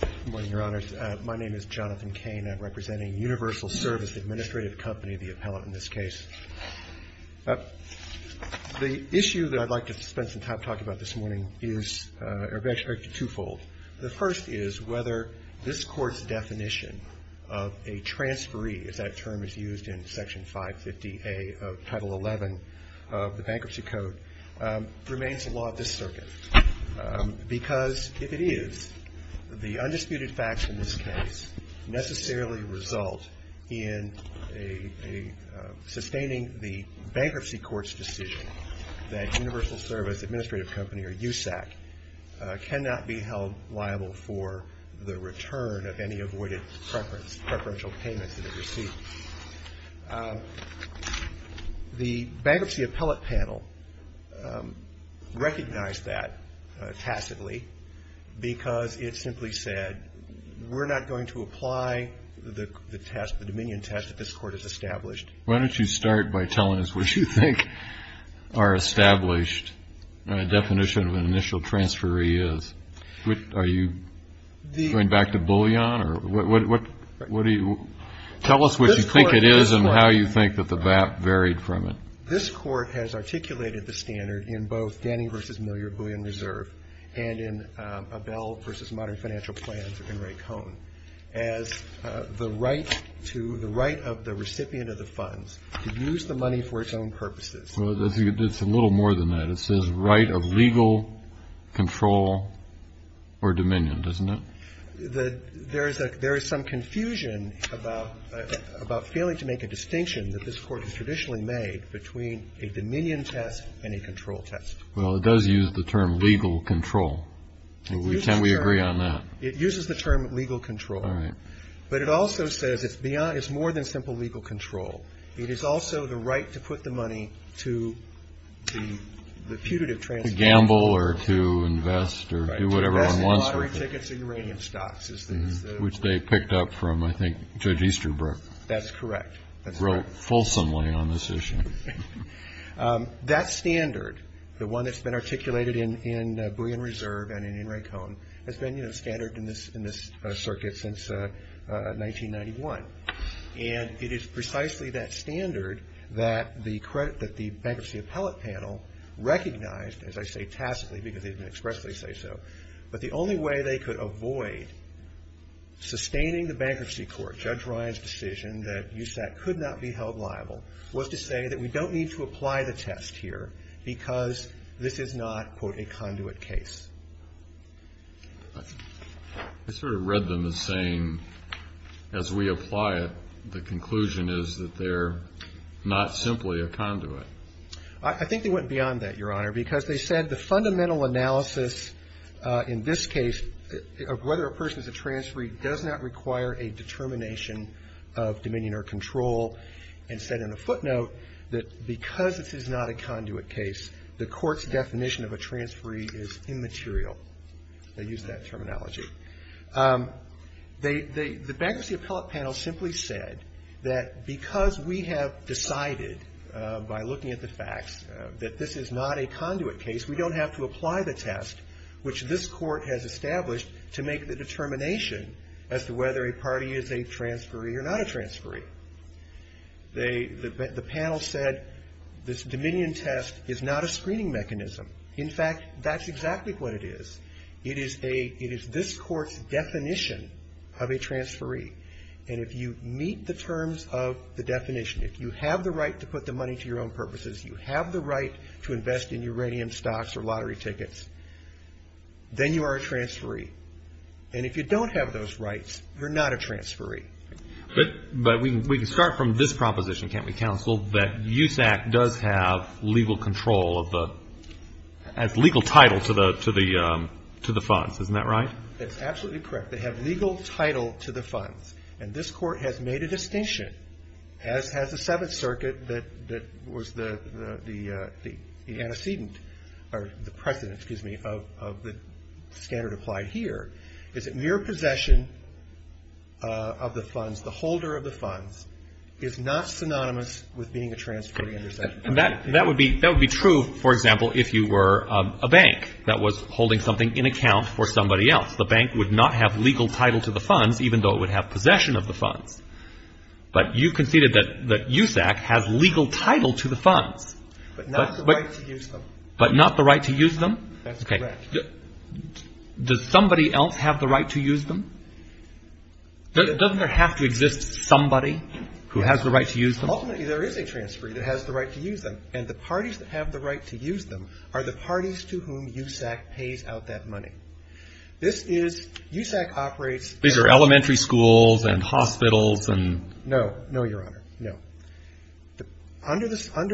Good morning, your honors. My name is Jonathan Kane. I'm representing Universal Service Administrative Company, the appellate in this case. The issue that I'd like to spend some time talking about this morning is twofold. The first is whether this court's definition of a transferee, as that term is used in Section 550A of Title 11 of the Bankruptcy Code, remains a law of this circuit. Because if it is, the undisputed facts in this case necessarily result in sustaining the bankruptcy court's decision that Universal Service Administrative Company, or USAC, cannot be held liable for the return of a transferee. The Bankruptcy Appellate Panel recognized that tacitly because it simply said, we're not going to apply the test, the dominion test, that this court has established. Why don't you start by telling us what you think our established definition of an initial transferee is. Are you going back to bullion, or what do you? Tell us what you think it is and how you think that the VAP varied from it. This court has articulated the standard in both Denny v. Miller Bullion Reserve and in Abell v. Modern Financial Plans and Ray Cohn as the right of the recipient of the funds to use the money for its own purposes. It's a little more than that. It says right of legal control or dominion, doesn't it? There is some confusion about failing to make a distinction that this court has traditionally made between a dominion test and a control test. Well, it does use the term legal control. Can we agree on that? It uses the term legal control. But it also says it's more than simple legal control. It is also the right to put the money to the putative transfer. To gamble, or to invest, or do whatever one wants with it. Lottery tickets or uranium stocks. Which they picked up from, I think, Judge Easterbrook. That's correct. That's right. Wrote fulsomely on this issue. That standard, the one that's been articulated in Bullion Reserve and in Ray Cohn, has been standard in this circuit since 1991. And it is precisely that standard that the Bankruptcy Appellate Panel recognized, as I say tacitly because they've been expressly say so. But the only way they could avoid sustaining the bankruptcy court, Judge Ryan's decision that USAT could not be held liable, was to say that we don't need to apply the test here because this is not, quote, a conduit case. I sort of read them as saying, as we apply it, the conclusion is that they're not simply a conduit. I think they went beyond that, Your Honor, because they said the fundamental analysis, in this case, of whether a person is a transferee does not require a determination of dominion or control. And said in a footnote that because this is not a conduit case, the court's definition of a transferee is immaterial. They used that terminology. The Bankruptcy Appellate Panel simply said that because we have decided, by looking at the facts, that this is not a conduit case, we don't have to apply the test, which this court has established, to make the determination as to whether a party is a transferee or not a transferee. The panel said this dominion test is not a screening mechanism. In fact, that's exactly what it is. It is this court's definition of a transferee. And if you meet the terms of the definition, if you have the right to put the money to your own purposes, you have the right to invest in uranium stocks or lottery tickets, then you are a transferee. And if you don't have those rights, you're not a transferee. But we can start from this proposition, can't we, counsel, that USAC does have legal control of the, has legal title to the funds, isn't that right? That's absolutely correct. They have legal title to the funds. And this court has made a distinction, as has the Seventh Circuit that was the antecedent, or the precedent, excuse me, of the standard applied here, is that mere possession of the funds, the holder of the funds, is not synonymous with being a transferee under SEC. And that would be true, for example, if you were a bank that was holding something in account for somebody else. The bank would not have legal title to the funds, even though it would have possession of the funds. But you conceded that USAC has legal title to the funds. But not the right to use them. But not the right to use them? That's correct. Does somebody else have the right to use them? Doesn't there have to exist somebody who has the right to use them? Ultimately, there is a transferee that has the right to use them. And the parties that have the right to use them are the parties to whom USAC pays out that money. This is, USAC operates. These are elementary schools and hospitals and? No, no, Your Honor, no. Under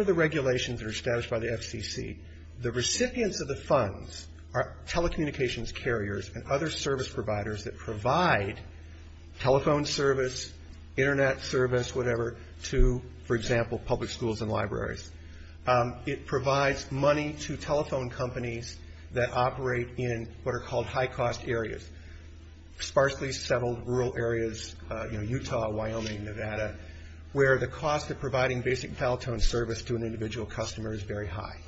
the regulations that are established by the FCC, the recipients of the funds are telecommunications carriers and other service providers that provide telephone service, internet service, whatever, to, for example, public schools and libraries. It provides money to telephone companies that operate in what are called high-cost areas. Sparsely settled rural areas, Utah, Wyoming, Nevada, where the cost of providing basic dial-tone service to an individual customer is very high.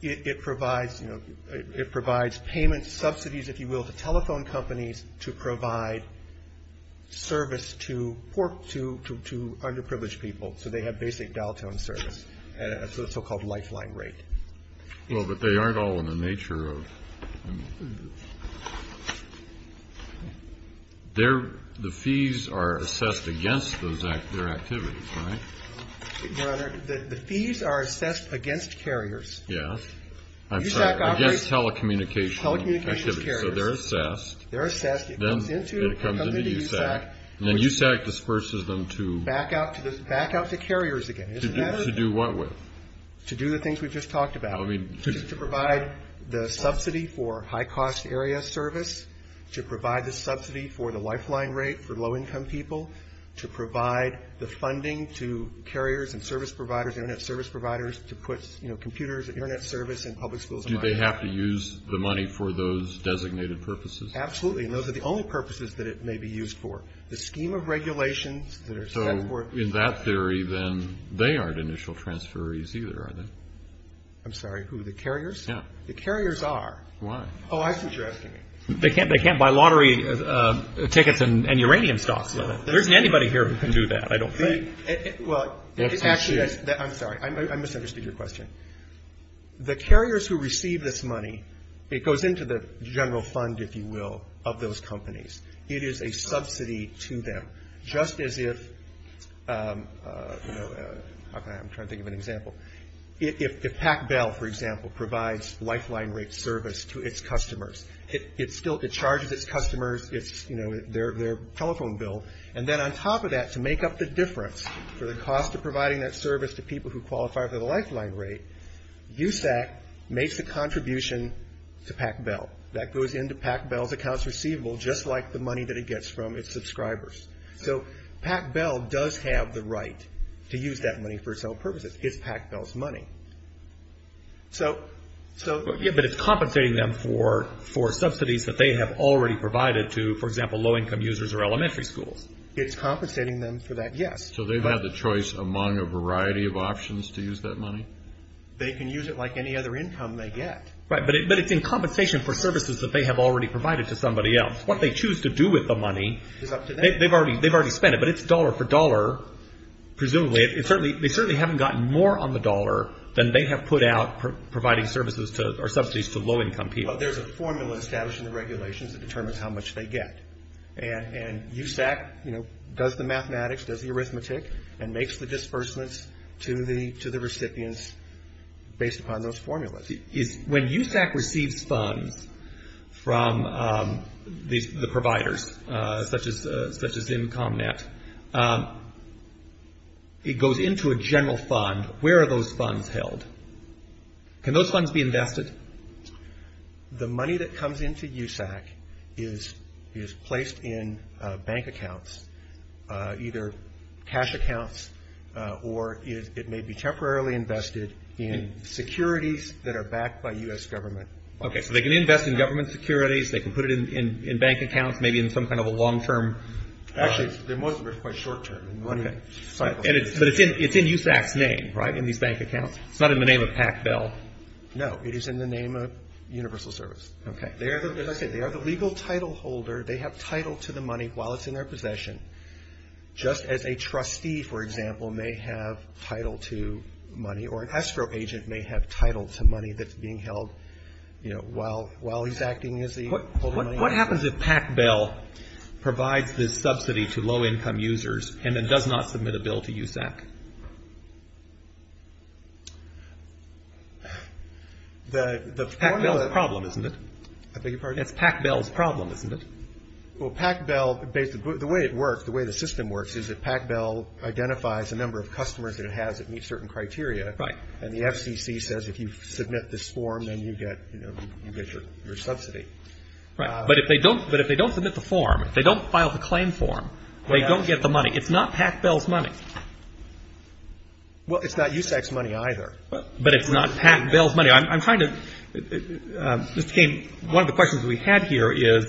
It provides payment subsidies, if you will, to telephone companies to provide service to underprivileged people. So they have basic dial-tone service at a so-called lifeline rate. Well, but they aren't all in the nature of... The fees are assessed against their activities, right? Your Honor, the fees are assessed against carriers. Yes, I'm sorry, against telecommunications. Telecommunications carriers. So they're assessed. They're assessed, it comes into USAC. And then USAC disperses them to? Back out to carriers again, isn't that it? To do what with? To do the things we've just talked about. To provide the subsidy for high-cost area service, to provide the subsidy for the lifeline rate for low-income people, to provide the funding to carriers and service providers, internet service providers, to put computers, internet service in public schools and libraries. Do they have to use the money for those designated purposes? Absolutely, and those are the only purposes that it may be used for. The scheme of regulations that are set forth... I'm sorry, who, the carriers? Yeah. The carriers are. Why? Oh, I see what you're asking me. They can't buy lottery tickets and uranium stocks. There isn't anybody here who can do that, I don't think. Well, actually, I'm sorry, I misunderstood your question. The carriers who receive this money, it goes into the general fund, if you will, of those companies. It is a subsidy to them, just as if... Okay, I'm trying to think of an example. If PacBell, for example, provides lifeline rate service to its customers, it charges its customers their telephone bill, and then on top of that, to make up the difference for the cost of providing that service to people who qualify for the lifeline rate, USAC makes a contribution to PacBell. That goes into PacBell's accounts receivable, just like the money that it gets from its subscribers. So, PacBell does have the right to use that money for its own purposes. It's PacBell's money. Yeah, but it's compensating them for subsidies that they have already provided to, for example, low-income users or elementary schools. It's compensating them for that, yes. So they've had the choice among a variety of options to use that money? They can use it like any other income they get. Right, but it's in compensation for services that they have already provided to somebody else. What they choose to do with the money, they've already spent it, but it's dollar for dollar, presumably, they certainly haven't gotten more on the dollar than they have put out providing services or subsidies to low-income people. Well, there's a formula established in the regulations that determines how much they get. And USAC does the mathematics, does the arithmetic, and makes the disbursements to the recipients based upon those formulas. When USAC receives funds from the providers, such as income net, it goes into a general fund. Where are those funds held? Can those funds be invested? The money that comes into USAC is placed in bank accounts, either cash accounts, or it may be temporarily invested in securities that are backed by US government. Okay, so they can invest in government securities, they can put it in bank accounts, maybe in some kind of a long-term? Actually, most of it is quite short-term. Okay, but it's in USAC's name, right, in these bank accounts? It's not in the name of PACBEL? No, it is in the name of Universal Service. Okay. As I said, they are the legal title holder, they have title to the money while it's in their possession. Just as a trustee, for example, may have title to money, that's being held while he's acting as the holder. What happens if PACBEL provides this subsidy to low-income users and then does not submit a bill to USAC? The formula- It's PACBEL's problem, isn't it? I beg your pardon? It's PACBEL's problem, isn't it? Well, PACBEL, the way it works, the way the system works is that PACBEL identifies a number of customers that it has that meet certain criteria, and the FCC says if you submit this form, then you get your subsidy. Right, but if they don't submit the form, if they don't file the claim form, they don't get the money. It's not PACBEL's money. Well, it's not USAC's money either. But it's not PACBEL's money. I'm trying to, Mr. King, one of the questions we had here is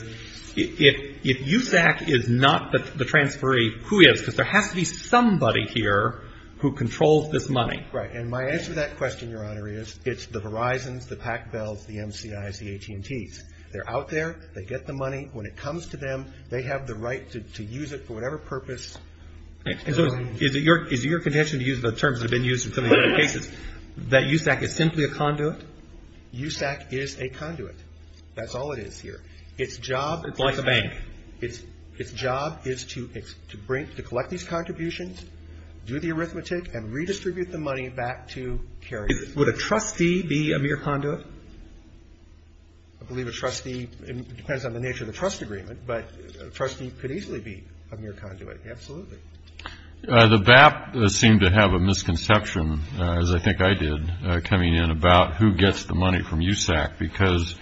if USAC is not the transferee, who is, because there has to be somebody here who controls this money. Right, and my answer to that question, Your Honor, is it's the Verizons, the PACBELs, the MCIs, the AT&Ts. They're out there, they get the money. When it comes to them, they have the right to use it for whatever purpose. Is it your condition to use the terms that have been used in some of the other cases that USAC is simply a conduit? USAC is a conduit. That's all it is here. Its job is to collect these contributions, do the arithmetic, and redistribute the money back to carriers. Would a trustee be a mere conduit? I believe a trustee, it depends on the nature of the trust agreement, but a trustee could easily be a mere conduit, absolutely. The BAP seemed to have a misconception, as I think I did, coming in about who gets the money from USAC, because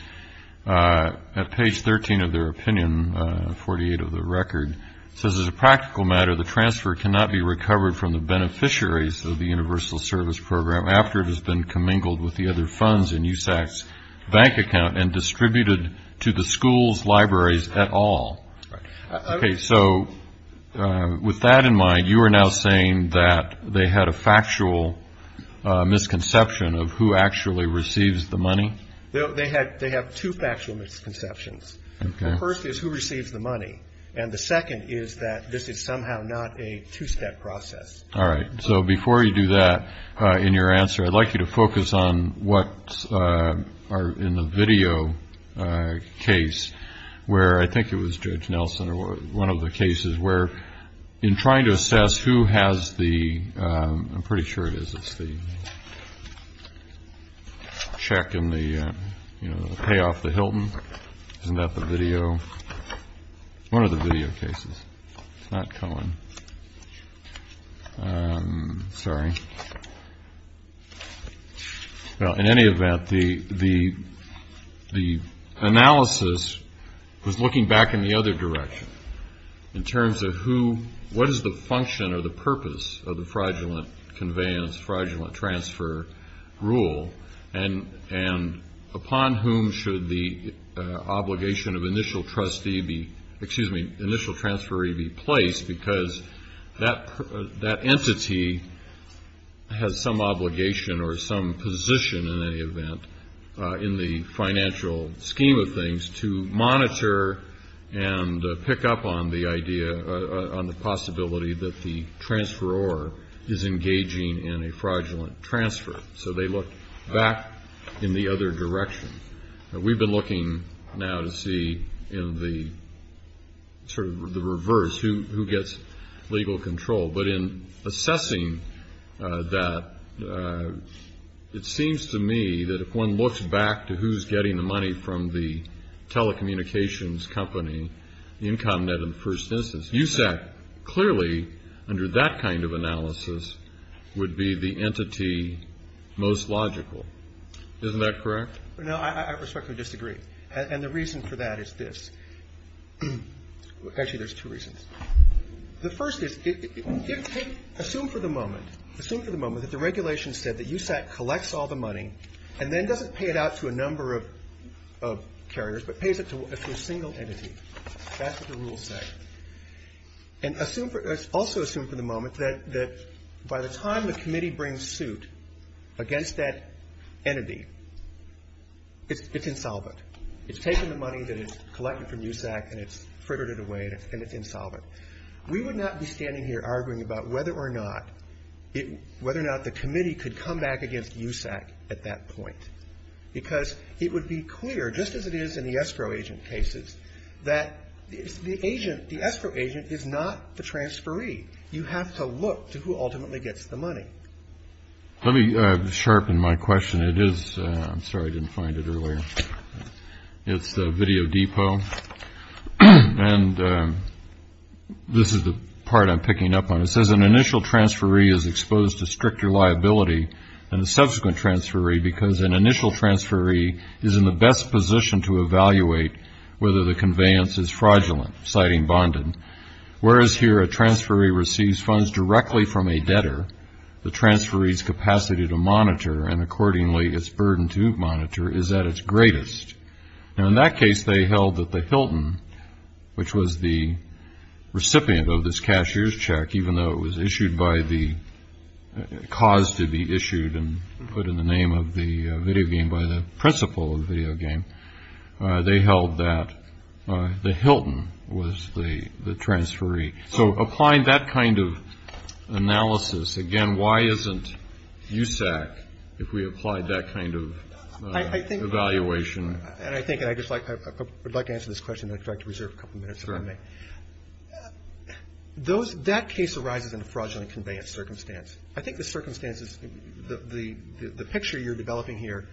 at page 13 of their opinion, 48 of the record, it says, as a practical matter, the transfer cannot be recovered from the beneficiaries of the universal service program after it has been commingled with the other funds in USAC's bank account and distributed to the school's libraries at all. Right. Okay, so with that in mind, you are now saying that they had a factual misconception of who actually receives the money? They have two factual misconceptions. The first is who receives the money, and the second is that this is somehow not a two-step process. All right, so before you do that in your answer, I'd like you to focus on what are in the video case, where I think it was Judge Nelson or one of the cases where in trying to assess who has the, I'm pretty sure it is, it's the check in the, you know, the payoff, the Hilton, isn't that the video? One of the video cases, it's not Cohen. Sorry. Well, in any event, the analysis was looking back in the other direction in terms of who, what is the function or the purpose of the fraudulent conveyance, fraudulent transfer rule, and upon whom should the obligation of initial trustee be, excuse me, initial transferee be placed because that entity has some obligation or some position in any event in the financial scheme of things to monitor and pick up on the idea, on the possibility that the transferor is engaging in a fraudulent transfer. So they look back in the other direction. We've been looking now to see in the sort of the reverse, who gets legal control. But in assessing that, it seems to me that if one looks back to who's getting the money from the telecommunications company, the income net in the first instance, USAC clearly under that kind of analysis would be the entity most logical. Isn't that correct? No, I respectfully disagree. And the reason for that is this. Actually, there's two reasons. The first is, assume for the moment, assume for the moment that the regulation said that USAC collects all the money and then doesn't pay it out to a number of carriers, but pays it to a single entity. That's what the rules say. And also assume for the moment that by the time the committee brings suit against that entity, it's insolvent. It's taken the money that it's collected from USAC and it's frittered it away and it's insolvent. We would not be standing here arguing about whether or not, whether or not the committee could come back against USAC at that point. Because it would be clear, just as it is in the escrow agent cases, that the escrow agent is not the transferee. You have to look to who ultimately gets the money. Let me sharpen my question. It is, I'm sorry, I didn't find it earlier. It's the Video Depot. And this is the part I'm picking up on. It says an initial transferee is exposed to stricter liability than a subsequent transferee because an initial transferee is in the best position to evaluate whether the conveyance is fraudulent, citing bondage. Whereas here a transferee receives funds directly from a debtor, the transferee's capacity to monitor and accordingly its burden to monitor is at its greatest. Now in that case, they held that the Hilton, which was the recipient of this cashier's check, even though it was issued by the cause to be issued and put in the name of the video game by the principal of the video game, they held that the Hilton was the transferee. So applying that kind of analysis, again, why isn't USAC, if we applied that kind of- Evaluation. And I think, and I'd just like to answer this question and I'd like to reserve a couple minutes if I may. That case arises in a fraudulent conveyance circumstance. I think the circumstances, the picture you're developing here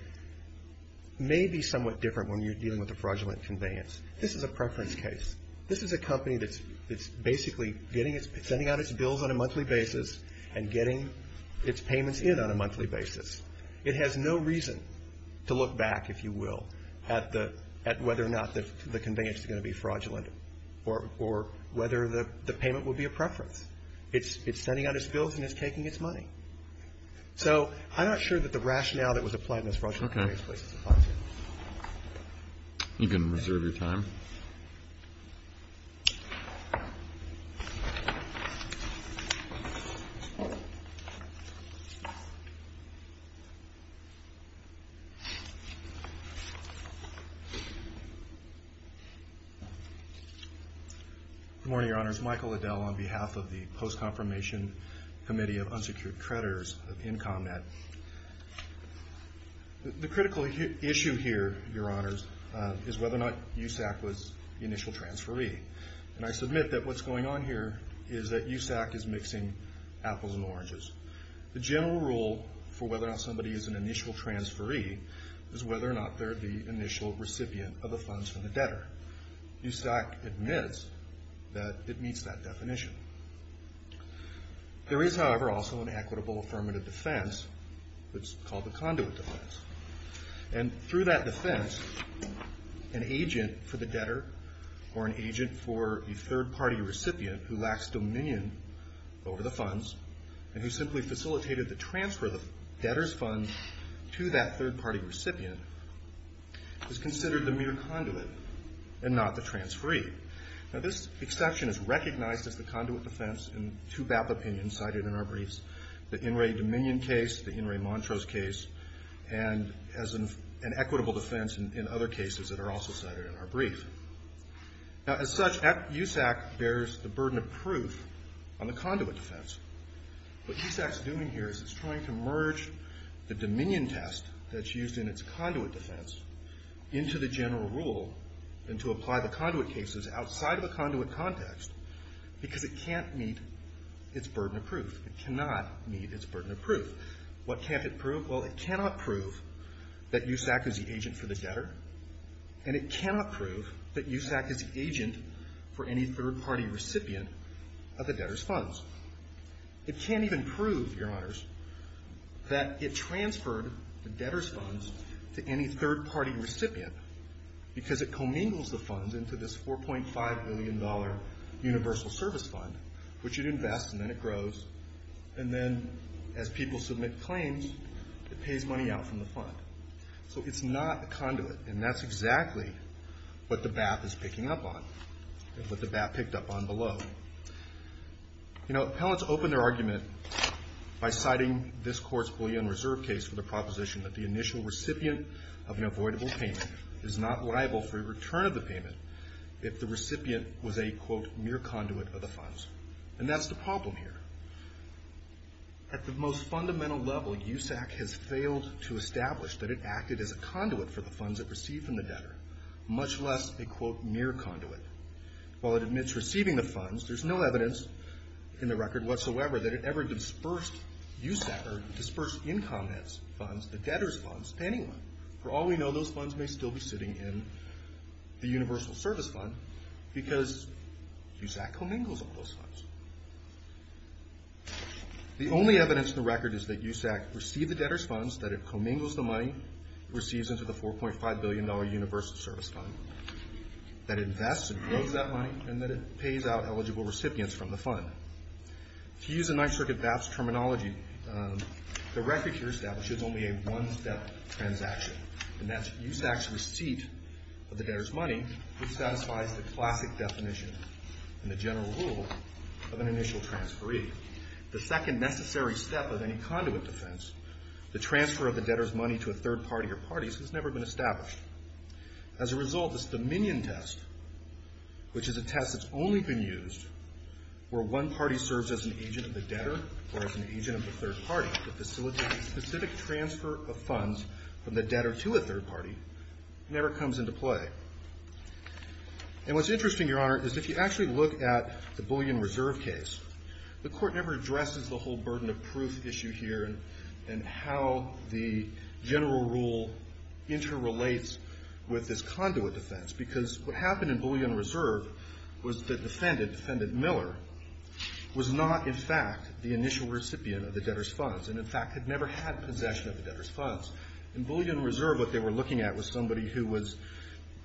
may be somewhat different when you're dealing with a fraudulent conveyance. This is a preference case. This is a company that's basically sending out its bills on a monthly basis and getting its payments in on a monthly basis. It has no reason to look back, if you will, at whether or not the conveyance is going to be fraudulent or whether the payment would be a preference. It's sending out its bills and it's taking its money. So I'm not sure that the rationale that was applied in this fraudulent conveyance case is applied here. You can reserve your time. Good morning, Your Honors. Michael Liddell on behalf of the Post-Confirmation Committee of Unsecured Creditors of IncomNet. The critical issue here, Your Honors, is whether or not USAC was the initial transferee. And I submit that what's going on here is that USAC is mixing apples and oranges. is a USAC transferee is that they are a USAC transferee. Somebody is an initial transferee is whether or not they're the initial recipient of the funds from the debtor. USAC admits that it meets that definition. There is, however, also an equitable affirmative defense that's called the conduit defense. And through that defense, an agent for the debtor or an agent for a third-party recipient who lacks dominion over the funds and who simply facilitated the transfer of the debtor's funds to that third-party recipient is considered the mere conduit and not the transferee. Now, this exception is recognized as the conduit defense in two BAPA opinions cited in our briefs, the In re Dominion case, the In re Montrose case, and as an equitable defense in other cases that are also cited in our brief. Now, as such, USAC bears the burden of proof on the conduit defense. What USAC's doing here is it's trying to merge the dominion test that's used in its conduit defense into the general rule and to apply the conduit cases outside of the conduit context because it can't meet its burden of proof. It cannot meet its burden of proof. What can't it prove? Well, it cannot prove that USAC is the agent for the debtor and it cannot prove that USAC is the agent for any third-party recipient of the debtor's funds. It can't even prove, Your Honors, that it transferred the debtor's funds to any third-party recipient because it commingles the funds into this $4.5 billion universal service fund, which it invests and then it grows, and then as people submit claims, it pays money out from the fund. So it's not a conduit, and that's exactly what the BAP is picking up on and what the BAP picked up on below. You know, appellants open their argument by citing this court's Boolean Reserve case for the proposition that the initial recipient of an avoidable payment is not liable for a return of the payment if the recipient was a, quote, mere conduit of the funds, and that's the problem here. At the most fundamental level, USAC has failed to establish that it acted as a conduit for the funds it received from the debtor, much less a, quote, mere conduit. While it admits receiving the funds, there's no evidence in the record whatsoever that it ever dispersed USAC, or dispersed income net funds, the debtor's funds, to anyone. For all we know, those funds may still be sitting in the universal service fund because USAC commingles all those funds. The only evidence in the record is that USAC received the debtor's funds, that it commingles the money it receives into the $4.5 billion universal service fund, that it invests and grows that money, and that it pays out eligible recipients from the fund. To use a Ninth Circuit BAPS terminology, the record here establishes only a one-step transaction, and that's USAC's receipt of the debtor's money, which satisfies the classic definition and the general rule of an initial transferee. The second necessary step of any conduit defense, the transfer of the debtor's money to a third party or parties, has never been established. As a result, this Dominion test, which is a test that's only been used where one party serves as an agent of the debtor or as an agent of the third party to facilitate specific transfer of funds from the debtor to a third party, never comes into play. And what's interesting, Your Honor, is if you actually look at the Bullion Reserve case, the court never addresses the whole burden of proof issue here, and how the general rule interrelates with this conduit defense, because what happened in Bullion Reserve was the defendant, Defendant Miller, was not, in fact, the initial recipient of the debtor's funds, and in fact, had never had possession of the debtor's funds. In Bullion Reserve, what they were looking at was somebody who was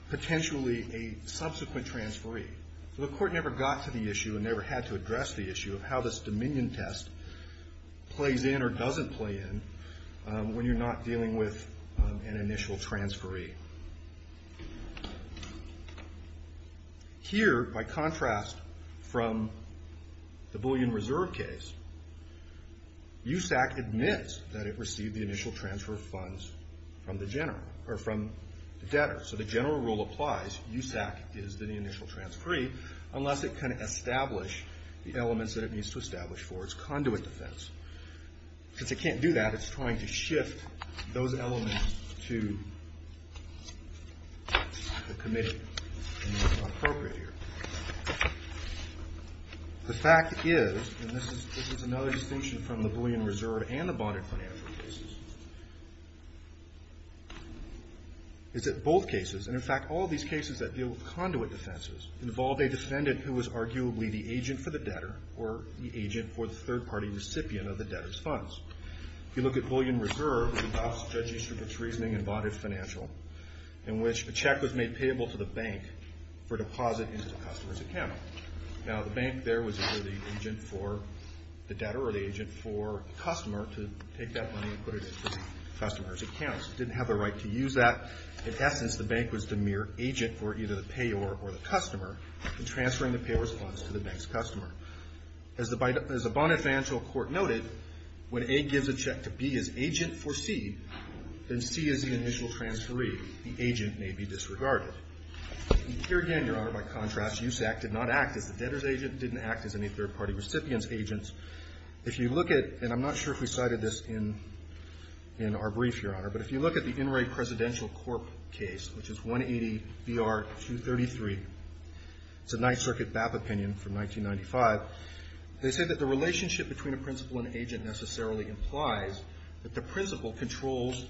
potentially a subsequent transferee. So the court never got to the issue and never had to address the issue of how this Dominion test plays in or doesn't play in when you're not dealing with an initial transferee. Here, by contrast from the Bullion Reserve case, USAC admits that it received the initial transfer of funds from the general, or from the debtor. So the general rule applies, USAC is the initial transferee, unless it can establish the elements that it needs to establish for its conduit defense. Since it can't do that, it's trying to shift those elements to the committee, and that's not appropriate here. The fact is, and this is another distinction from the Bullion Reserve and the Bonded Financial cases, is that both cases, and in fact, all these cases that deal with conduit defenses involve a defendant who was arguably the agent for the debtor, or the agent for the third-party recipient of the debtor's funds. If you look at Bullion Reserve, it involves judiciously reasoning in Bonded Financial, in which a check was made payable to the bank for deposit into the customer's account. Now, the bank there was either the agent for the debtor or the agent for the customer to take that money and put it into the customer's account. It didn't have the right to use that. In essence, the bank was the mere agent for either the payor or the customer in transferring the payor's funds to the bank's customer. As the Bonded Financial court noted, when A gives a check to B as agent for C, then C is the initial transferee. The agent may be disregarded. Here again, Your Honor, by contrast, USAC did not act as the debtor's agent, didn't act as any third-party recipient's agent. If you look at, and I'm not sure if we cited this in our brief, Your Honor, but if you look at the In re Presidential Corp case, which is 180 BR 233, it's a Ninth Circuit BAP opinion from 1995. They said that the relationship between a principal and agent necessarily implies that the principal controls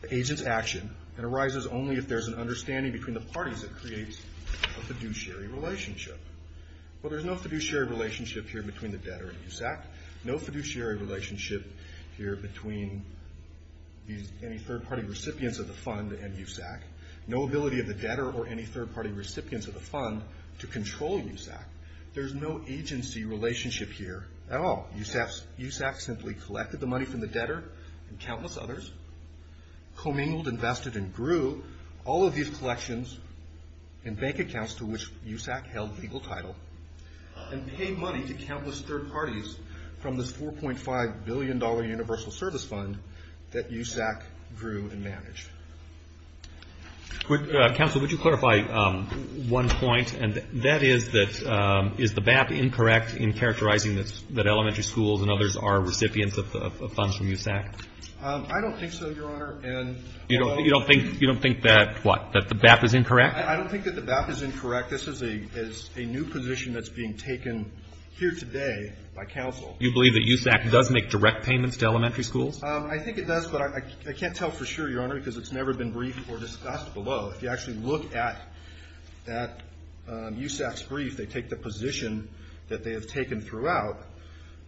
the agent's action and arises only if there's an understanding between the parties that creates a fiduciary relationship. Well, there's no fiduciary relationship here between the debtor and USAC, no fiduciary relationship here between any third-party recipients of the fund and USAC, no ability of the debtor or any third-party recipients of the fund to control USAC. There's no agency relationship here at all. USAC simply collected the money from the debtor and countless others, commingled, invested, and grew all of these collections and bank accounts to which USAC held legal title, and paid money to countless third parties from this $4.5 billion universal service fund that USAC grew and managed. Counsel, would you clarify one point, and that is that is the BAP incorrect in characterizing that elementary schools and others are recipients of funds from USAC? I don't think so, Your Honor. You don't think that what, that the BAP is incorrect? I don't think that the BAP is incorrect. This is a new position that's being taken here today by counsel. You believe that USAC does make direct payments to elementary schools? I think it does, but I can't tell for sure, Your Honor, because it's never been briefed or discussed below. If you actually look at that USAC's brief, they take the position that they have taken throughout.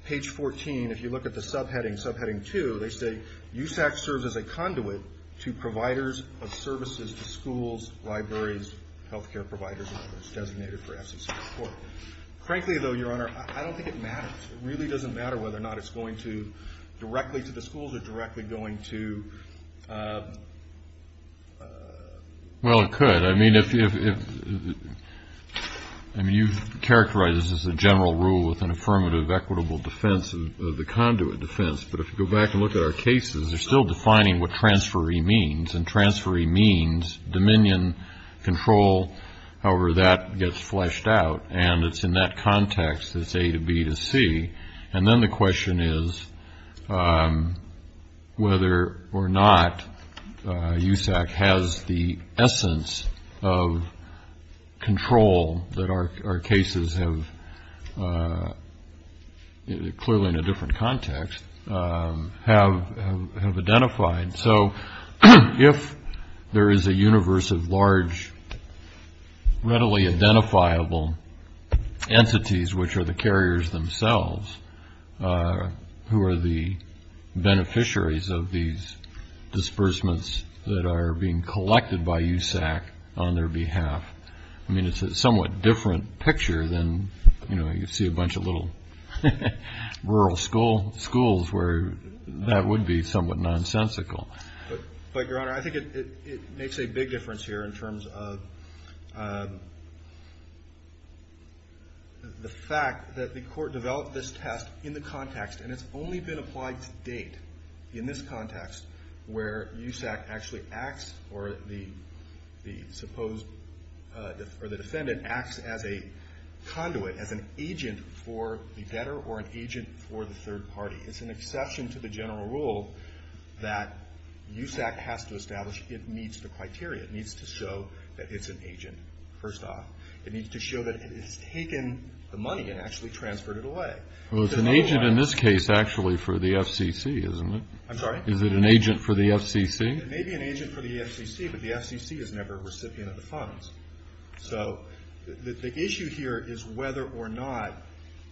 Page 14, if you look at the subheading, subheading two, they say, USAC serves as a conduit to providers of services to schools, libraries, healthcare providers, and others, designated for FCC support. Frankly, though, Your Honor, I don't think it matters. It really doesn't matter whether or not it's going to directly to the schools or directly going to, uh, uh. Well, it could. I mean, if, if, if, I mean, you've characterized this as a general rule with an affirmative equitable defense of the conduit defense. But if you go back and look at our cases, they're still defining what transferee means. And transferee means dominion, control. However, that gets fleshed out. And it's in that context, it's A to B to C. And then the question is whether or not USAC has the essence of control that our cases have, clearly in a different context, have identified. So if there is a universe of large, readily identifiable entities, which are the carriers themselves, who are the beneficiaries of these disbursements that are being collected by USAC on their behalf, I mean, it's a somewhat different picture than, you know, you see a bunch of little rural school schools where that would be somewhat nonsensical. But, Your Honor, I think it makes a big difference here in terms of the fact that the court developed this test in the context, and it's only been applied to date, in this context, where USAC actually acts, or the defendant acts as a conduit, as an agent for the debtor or an agent for the third party. It's an exception to the general rule that USAC has to establish it meets the criteria. It needs to show that it's an agent, first off. It needs to show that it's taken the money and actually transferred it away. Well, it's an agent in this case, actually, for the FCC, isn't it? I'm sorry? Is it an agent for the FCC? It may be an agent for the FCC, but the FCC is never a recipient of the funds. So the issue here is whether or not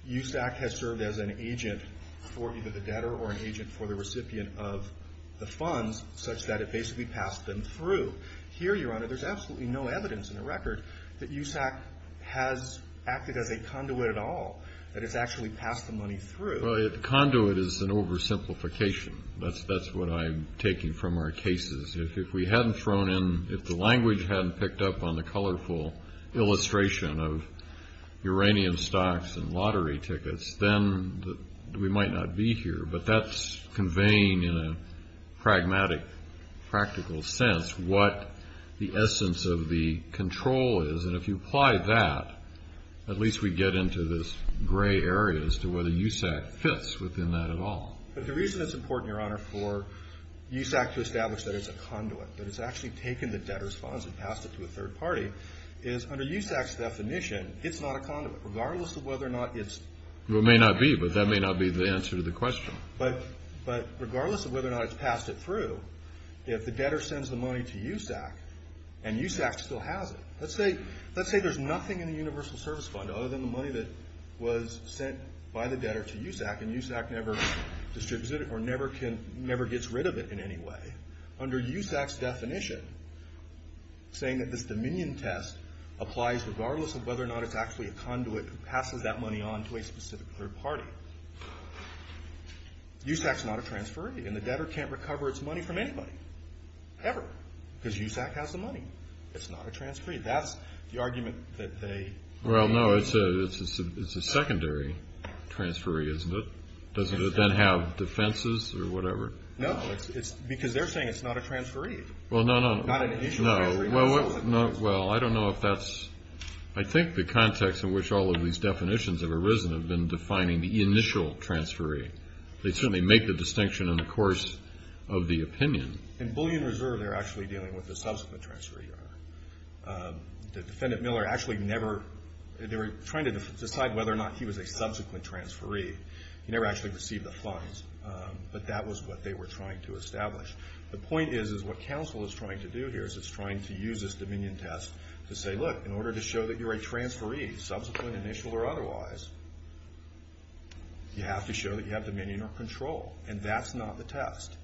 USAC has served as an agent for either the debtor or an agent for the recipient of the funds, such that it basically passed them through. Here, Your Honor, there's absolutely no evidence in the record that USAC has acted as a conduit at all, that it's actually passed the money through. Conduit is an oversimplification. That's what I'm taking from our cases. If we hadn't thrown in, if the language hadn't picked up on the colorful illustration of uranium stocks and lottery tickets, then we might not be here. But that's conveying, in a pragmatic, practical sense, what the essence of the control is. And if you apply that, at least we get into this gray area as to whether USAC fits within that at all. But the reason it's important, Your Honor, for USAC to establish that it's a conduit, that it's actually taken the debtor's funds and passed it to a third party, is under USAC's definition, it's not a conduit, regardless of whether or not it's. Well, it may not be, but that may not be the answer to the question. But regardless of whether or not it's passed it through, if the debtor sends the money to USAC, and USAC still has it, let's say there's nothing in the Universal Service Fund other than the money that was sent by the debtor to USAC, and USAC never distributes it, or never gets rid of it in any way. Under USAC's definition, saying that this Dominion test applies regardless of whether or not it's actually a conduit who passes that money on to a specific third party. USAC's not a transferee, and the debtor can't recover its money from anybody, ever, because USAC has the money. It's not a transferee. That's the argument that they made. Well, no, it's a secondary transferee, isn't it? Doesn't it then have defenses, or whatever? No, because they're saying it's not a transferee. Well, no, no, no. Not an initial transferee. Well, I don't know if that's, I think the context in which all of these definitions have arisen have been defining the initial transferee. They certainly make the distinction in the course of the opinion. In Bullion Reserve, they're actually dealing with the subsequent transferee. The defendant Miller actually never, they were trying to decide whether or not he was a subsequent transferee. He never actually received the funds, but that was what they were trying to establish. The point is, is what counsel is trying to do here is it's trying to use this Dominion test to say, look, in order to show that you're a transferee, subsequent, initial, or otherwise, you have to show that you have Dominion or control. And that's not the test.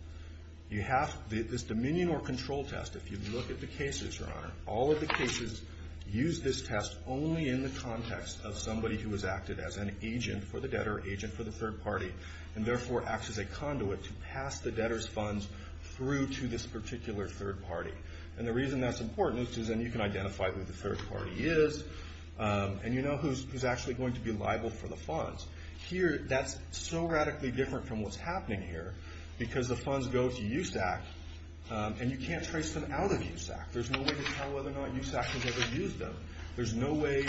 You have this Dominion or control test. If you look at the cases, Your Honor, all of the cases use this test only in the context of somebody who has acted as an agent for the debtor, agent for the third party, and therefore acts as a conduit to pass the debtor's funds through to this particular third party. And the reason that's important is because then you can identify who the third party is, and you know who's actually going to be liable for the funds. Here, that's so radically different from what's happening here because the funds go to USAC, and you can't trace them out of USAC. There's no way to tell whether or not USAC has ever used them. There's no way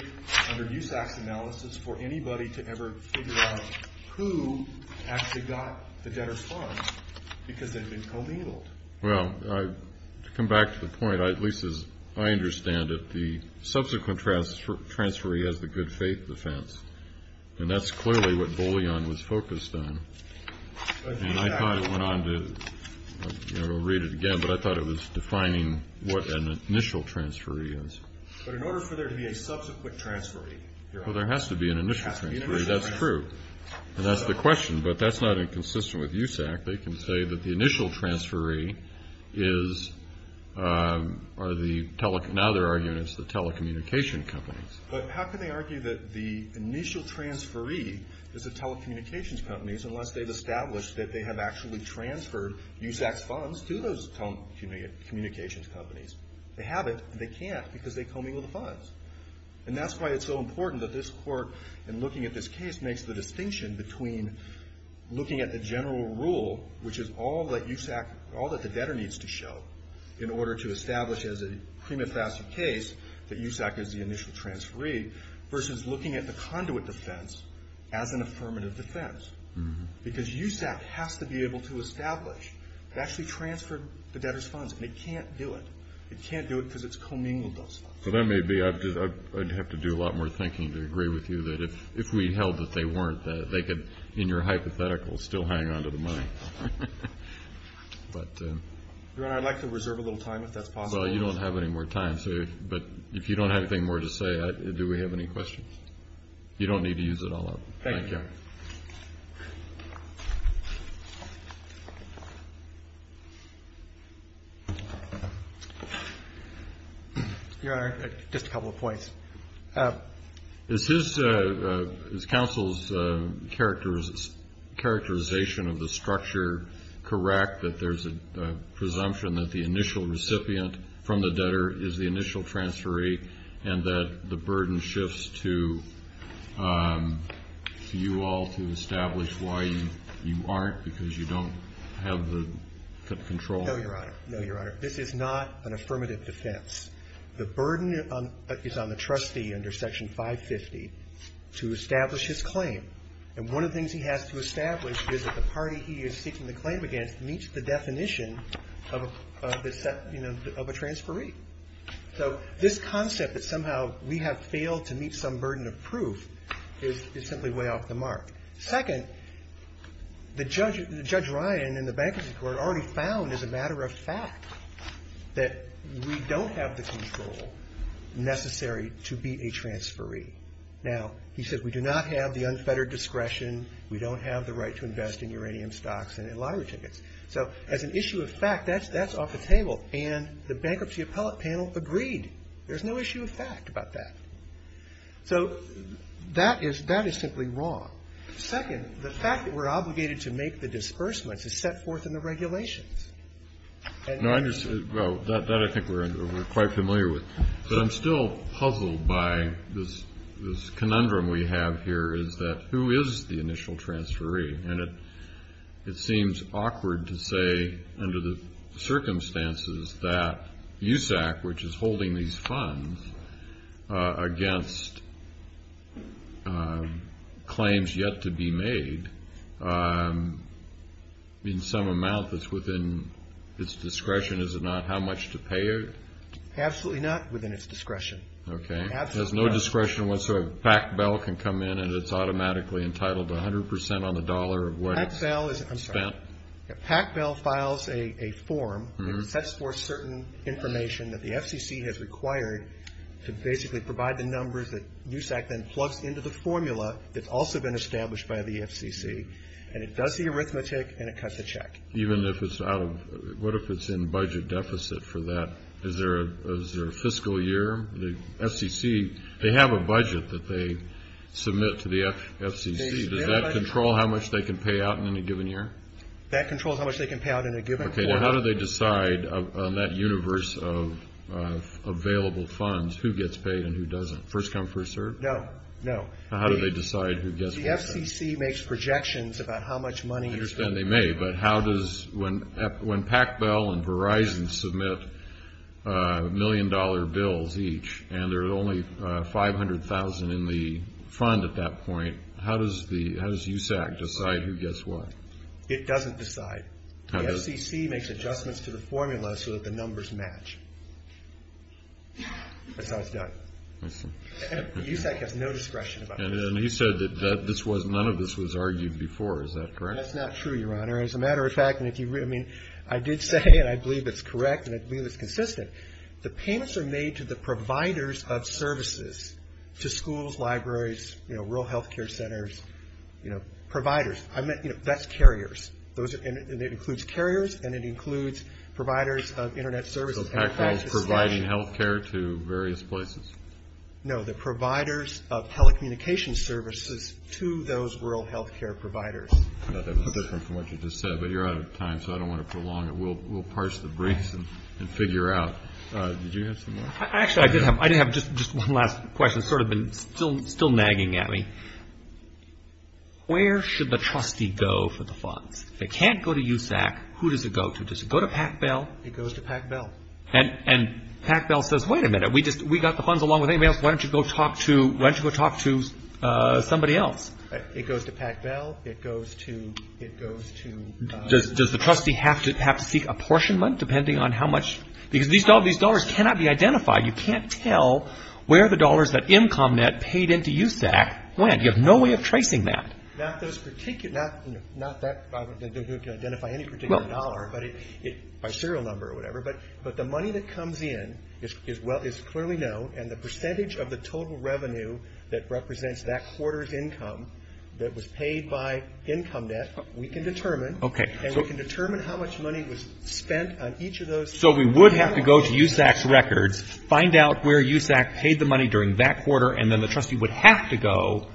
under USAC's analysis for anybody to ever figure out who actually got the debtor's funds because they've been illegaled. Well, to come back to the point, at least as I understand it, the subsequent transferee has the good faith defense, and that's clearly what Boleyn was focused on. And I thought it went on to, you know, we'll read it again, but I thought it was defining what an initial transferee is. But in order for there to be a subsequent transferee, Your Honor, there has to be an initial transferee. That's true, and that's the question, but that's not inconsistent with USAC. They can say that the initial transferee is, or the tele... Now they're arguing it's the telecommunication companies. But how can they argue that the initial transferee is the telecommunications companies unless they've established that they have actually transferred USAC's funds to those telecommunications companies? They have it, and they can't because they commingle the funds. And that's why it's so important that this court, in looking at this case, makes the distinction between looking at the general rule, which is all that USAC, all that the debtor needs to show in order to establish as a prima facie case that USAC is the initial transferee, versus looking at the conduit defense as an affirmative defense. Because USAC has to be able to establish it actually transferred the debtor's funds, and it can't do it. It can't do it because it's commingled those funds. So that may be, I'd have to do a lot more thinking to agree with you that if we held that they weren't, that they could, in your hypothetical, still hang on to the money. Your Honor, I'd like to reserve a little time if that's possible. Well, you don't have any more time, but if you don't have anything more to say, do we have any questions? You don't need to use it all up. Thank you. Your Honor, just a couple of points. Is his, is counsel's characterization of the structure correct, that there's a presumption that the initial recipient from the debtor is the initial transferee, and that the burden shifts to you all to establish why you aren't, because you don't have the control? No, Your Honor. No, Your Honor. This is not an affirmative defense. The burden is on the trustee under section 550 to establish his claim. And one of the things he has to establish is that the party he is seeking the claim against meets the definition of a transferee. So this concept that somehow we have failed to meet some burden of proof is simply way off the mark. already found as a matter of fact that we don't have the control necessary to be a transferee. Now, he says we do not have the unfettered discretion. We don't have the right to invest in uranium stocks and in lottery tickets. So as an issue of fact, that's off the table. And the bankruptcy appellate panel agreed. There's no issue of fact about that. So that is simply wrong. Second, the fact that we're obligated to make the disbursements is set forth in the regulations. No, I understand. Well, that I think we're quite familiar with. But I'm still puzzled by this conundrum we have here is that who is the initial transferee? And it seems awkward to say under the circumstances that USAC, which is holding these funds against claims yet to be made in some amount that's within its discretion. Is it not? How much to pay it? Absolutely not within its discretion. OK, there's no discretion whatsoever. PACBEL can come in and it's automatically entitled to 100% on the dollar of what it's spent. PACBEL files a form that sets forth certain information that the FCC has required to basically provide the numbers that USAC then plugs into the formula. It's also been established by the FCC. And it does the arithmetic and it cuts the check. Even if it's out of, what if it's in budget deficit for that? Is there a fiscal year? The FCC, they have a budget that they submit to the FCC. Does that control how much they can pay out in any given year? That controls how much they can pay out in a given year. OK, now how do they decide on that universe of available funds who gets paid and who doesn't? First come, first serve? No, no. How do they decide who gets what? The FCC makes projections about how much money is... I understand they may, but how does... When PACBEL and Verizon submit million dollar bills each and there's only 500,000 in the fund at that point, how does USAC decide who gets what? It doesn't decide. The FCC makes adjustments to the formula so that the numbers match. That's how it's done. I see. USAC has no discretion about this. He said that none of this was argued before. Is that correct? That's not true, Your Honor. As a matter of fact, I did say and I believe it's correct and I believe it's consistent, the payments are made to the providers of services, to schools, libraries, rural health care centers, providers. I meant, that's carriers. It includes carriers and it includes providers of internet services. So PACBEL is providing health care to various places? No, the providers of telecommunication services to those rural health care providers. I thought that was different from what you just said, but you're out of time, so I don't want to prolong it. We'll parse the briefs and figure out. Did you have some more? Actually, I did have just one last question. It's sort of been still nagging at me. Where should the trustee go for the funds? If it can't go to USAC, who does it go to? Does it go to PACBEL? It goes to PACBEL. And PACBEL says, wait a minute, we got the funds along with anybody else. Why don't you go talk to somebody else? It goes to PACBEL. It goes to... Does the trustee have to seek apportionment, depending on how much... Because these dollars cannot be identified. You can't tell where the dollars that IMCOMNet paid into USAC went. You have no way of tracing that. Not those particular... Not that they can identify any particular dollar, by serial number or whatever, but the money that comes in is clearly known, and the percentage of the total revenue that represents that quarter's income that was paid by IMCOMNet, we can determine. Okay. And we can determine how much money was spent on each of those... So we would have to go to USAC's records, find out where USAC paid the money during that quarter, and then the trustee would have to go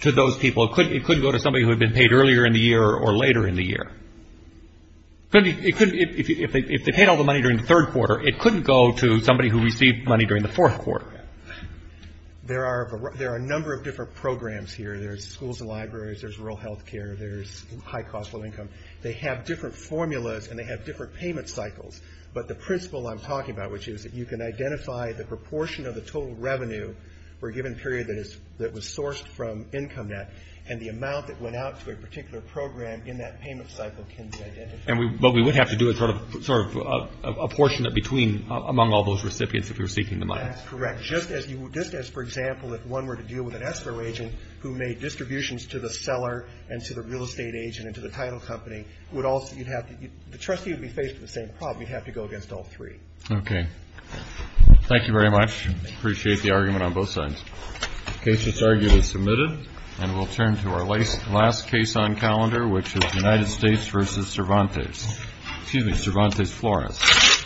to those people. It couldn't go to somebody who had been paid earlier in the year or later in the year. If they paid all the money during the third quarter, it couldn't go to somebody who received money during the fourth quarter. There are a number of different programs here. There's schools and libraries, there's rural health care, there's high cost, low income. They have different formulas, and they have different payment cycles. But the principle I'm talking about, which is that you can identify the proportion of the total revenue for a given period that was sourced from IMCOMNet, and the amount that went out to a particular program in that payment cycle can be identified. But we would have to do a portion among all those recipients if you're seeking the money. That's correct. Just as, for example, if one were to deal with an escrow agent who made distributions to the seller and to the real estate agent and to the title company, the trustee would be faced with the same problem. You'd have to go against all three. Okay. Thank you very much. Appreciate the argument on both sides. Case that's argued is submitted, and we'll turn to our last case on calendar, which is United States versus Cervantes. Excuse me, Cervantes Flores.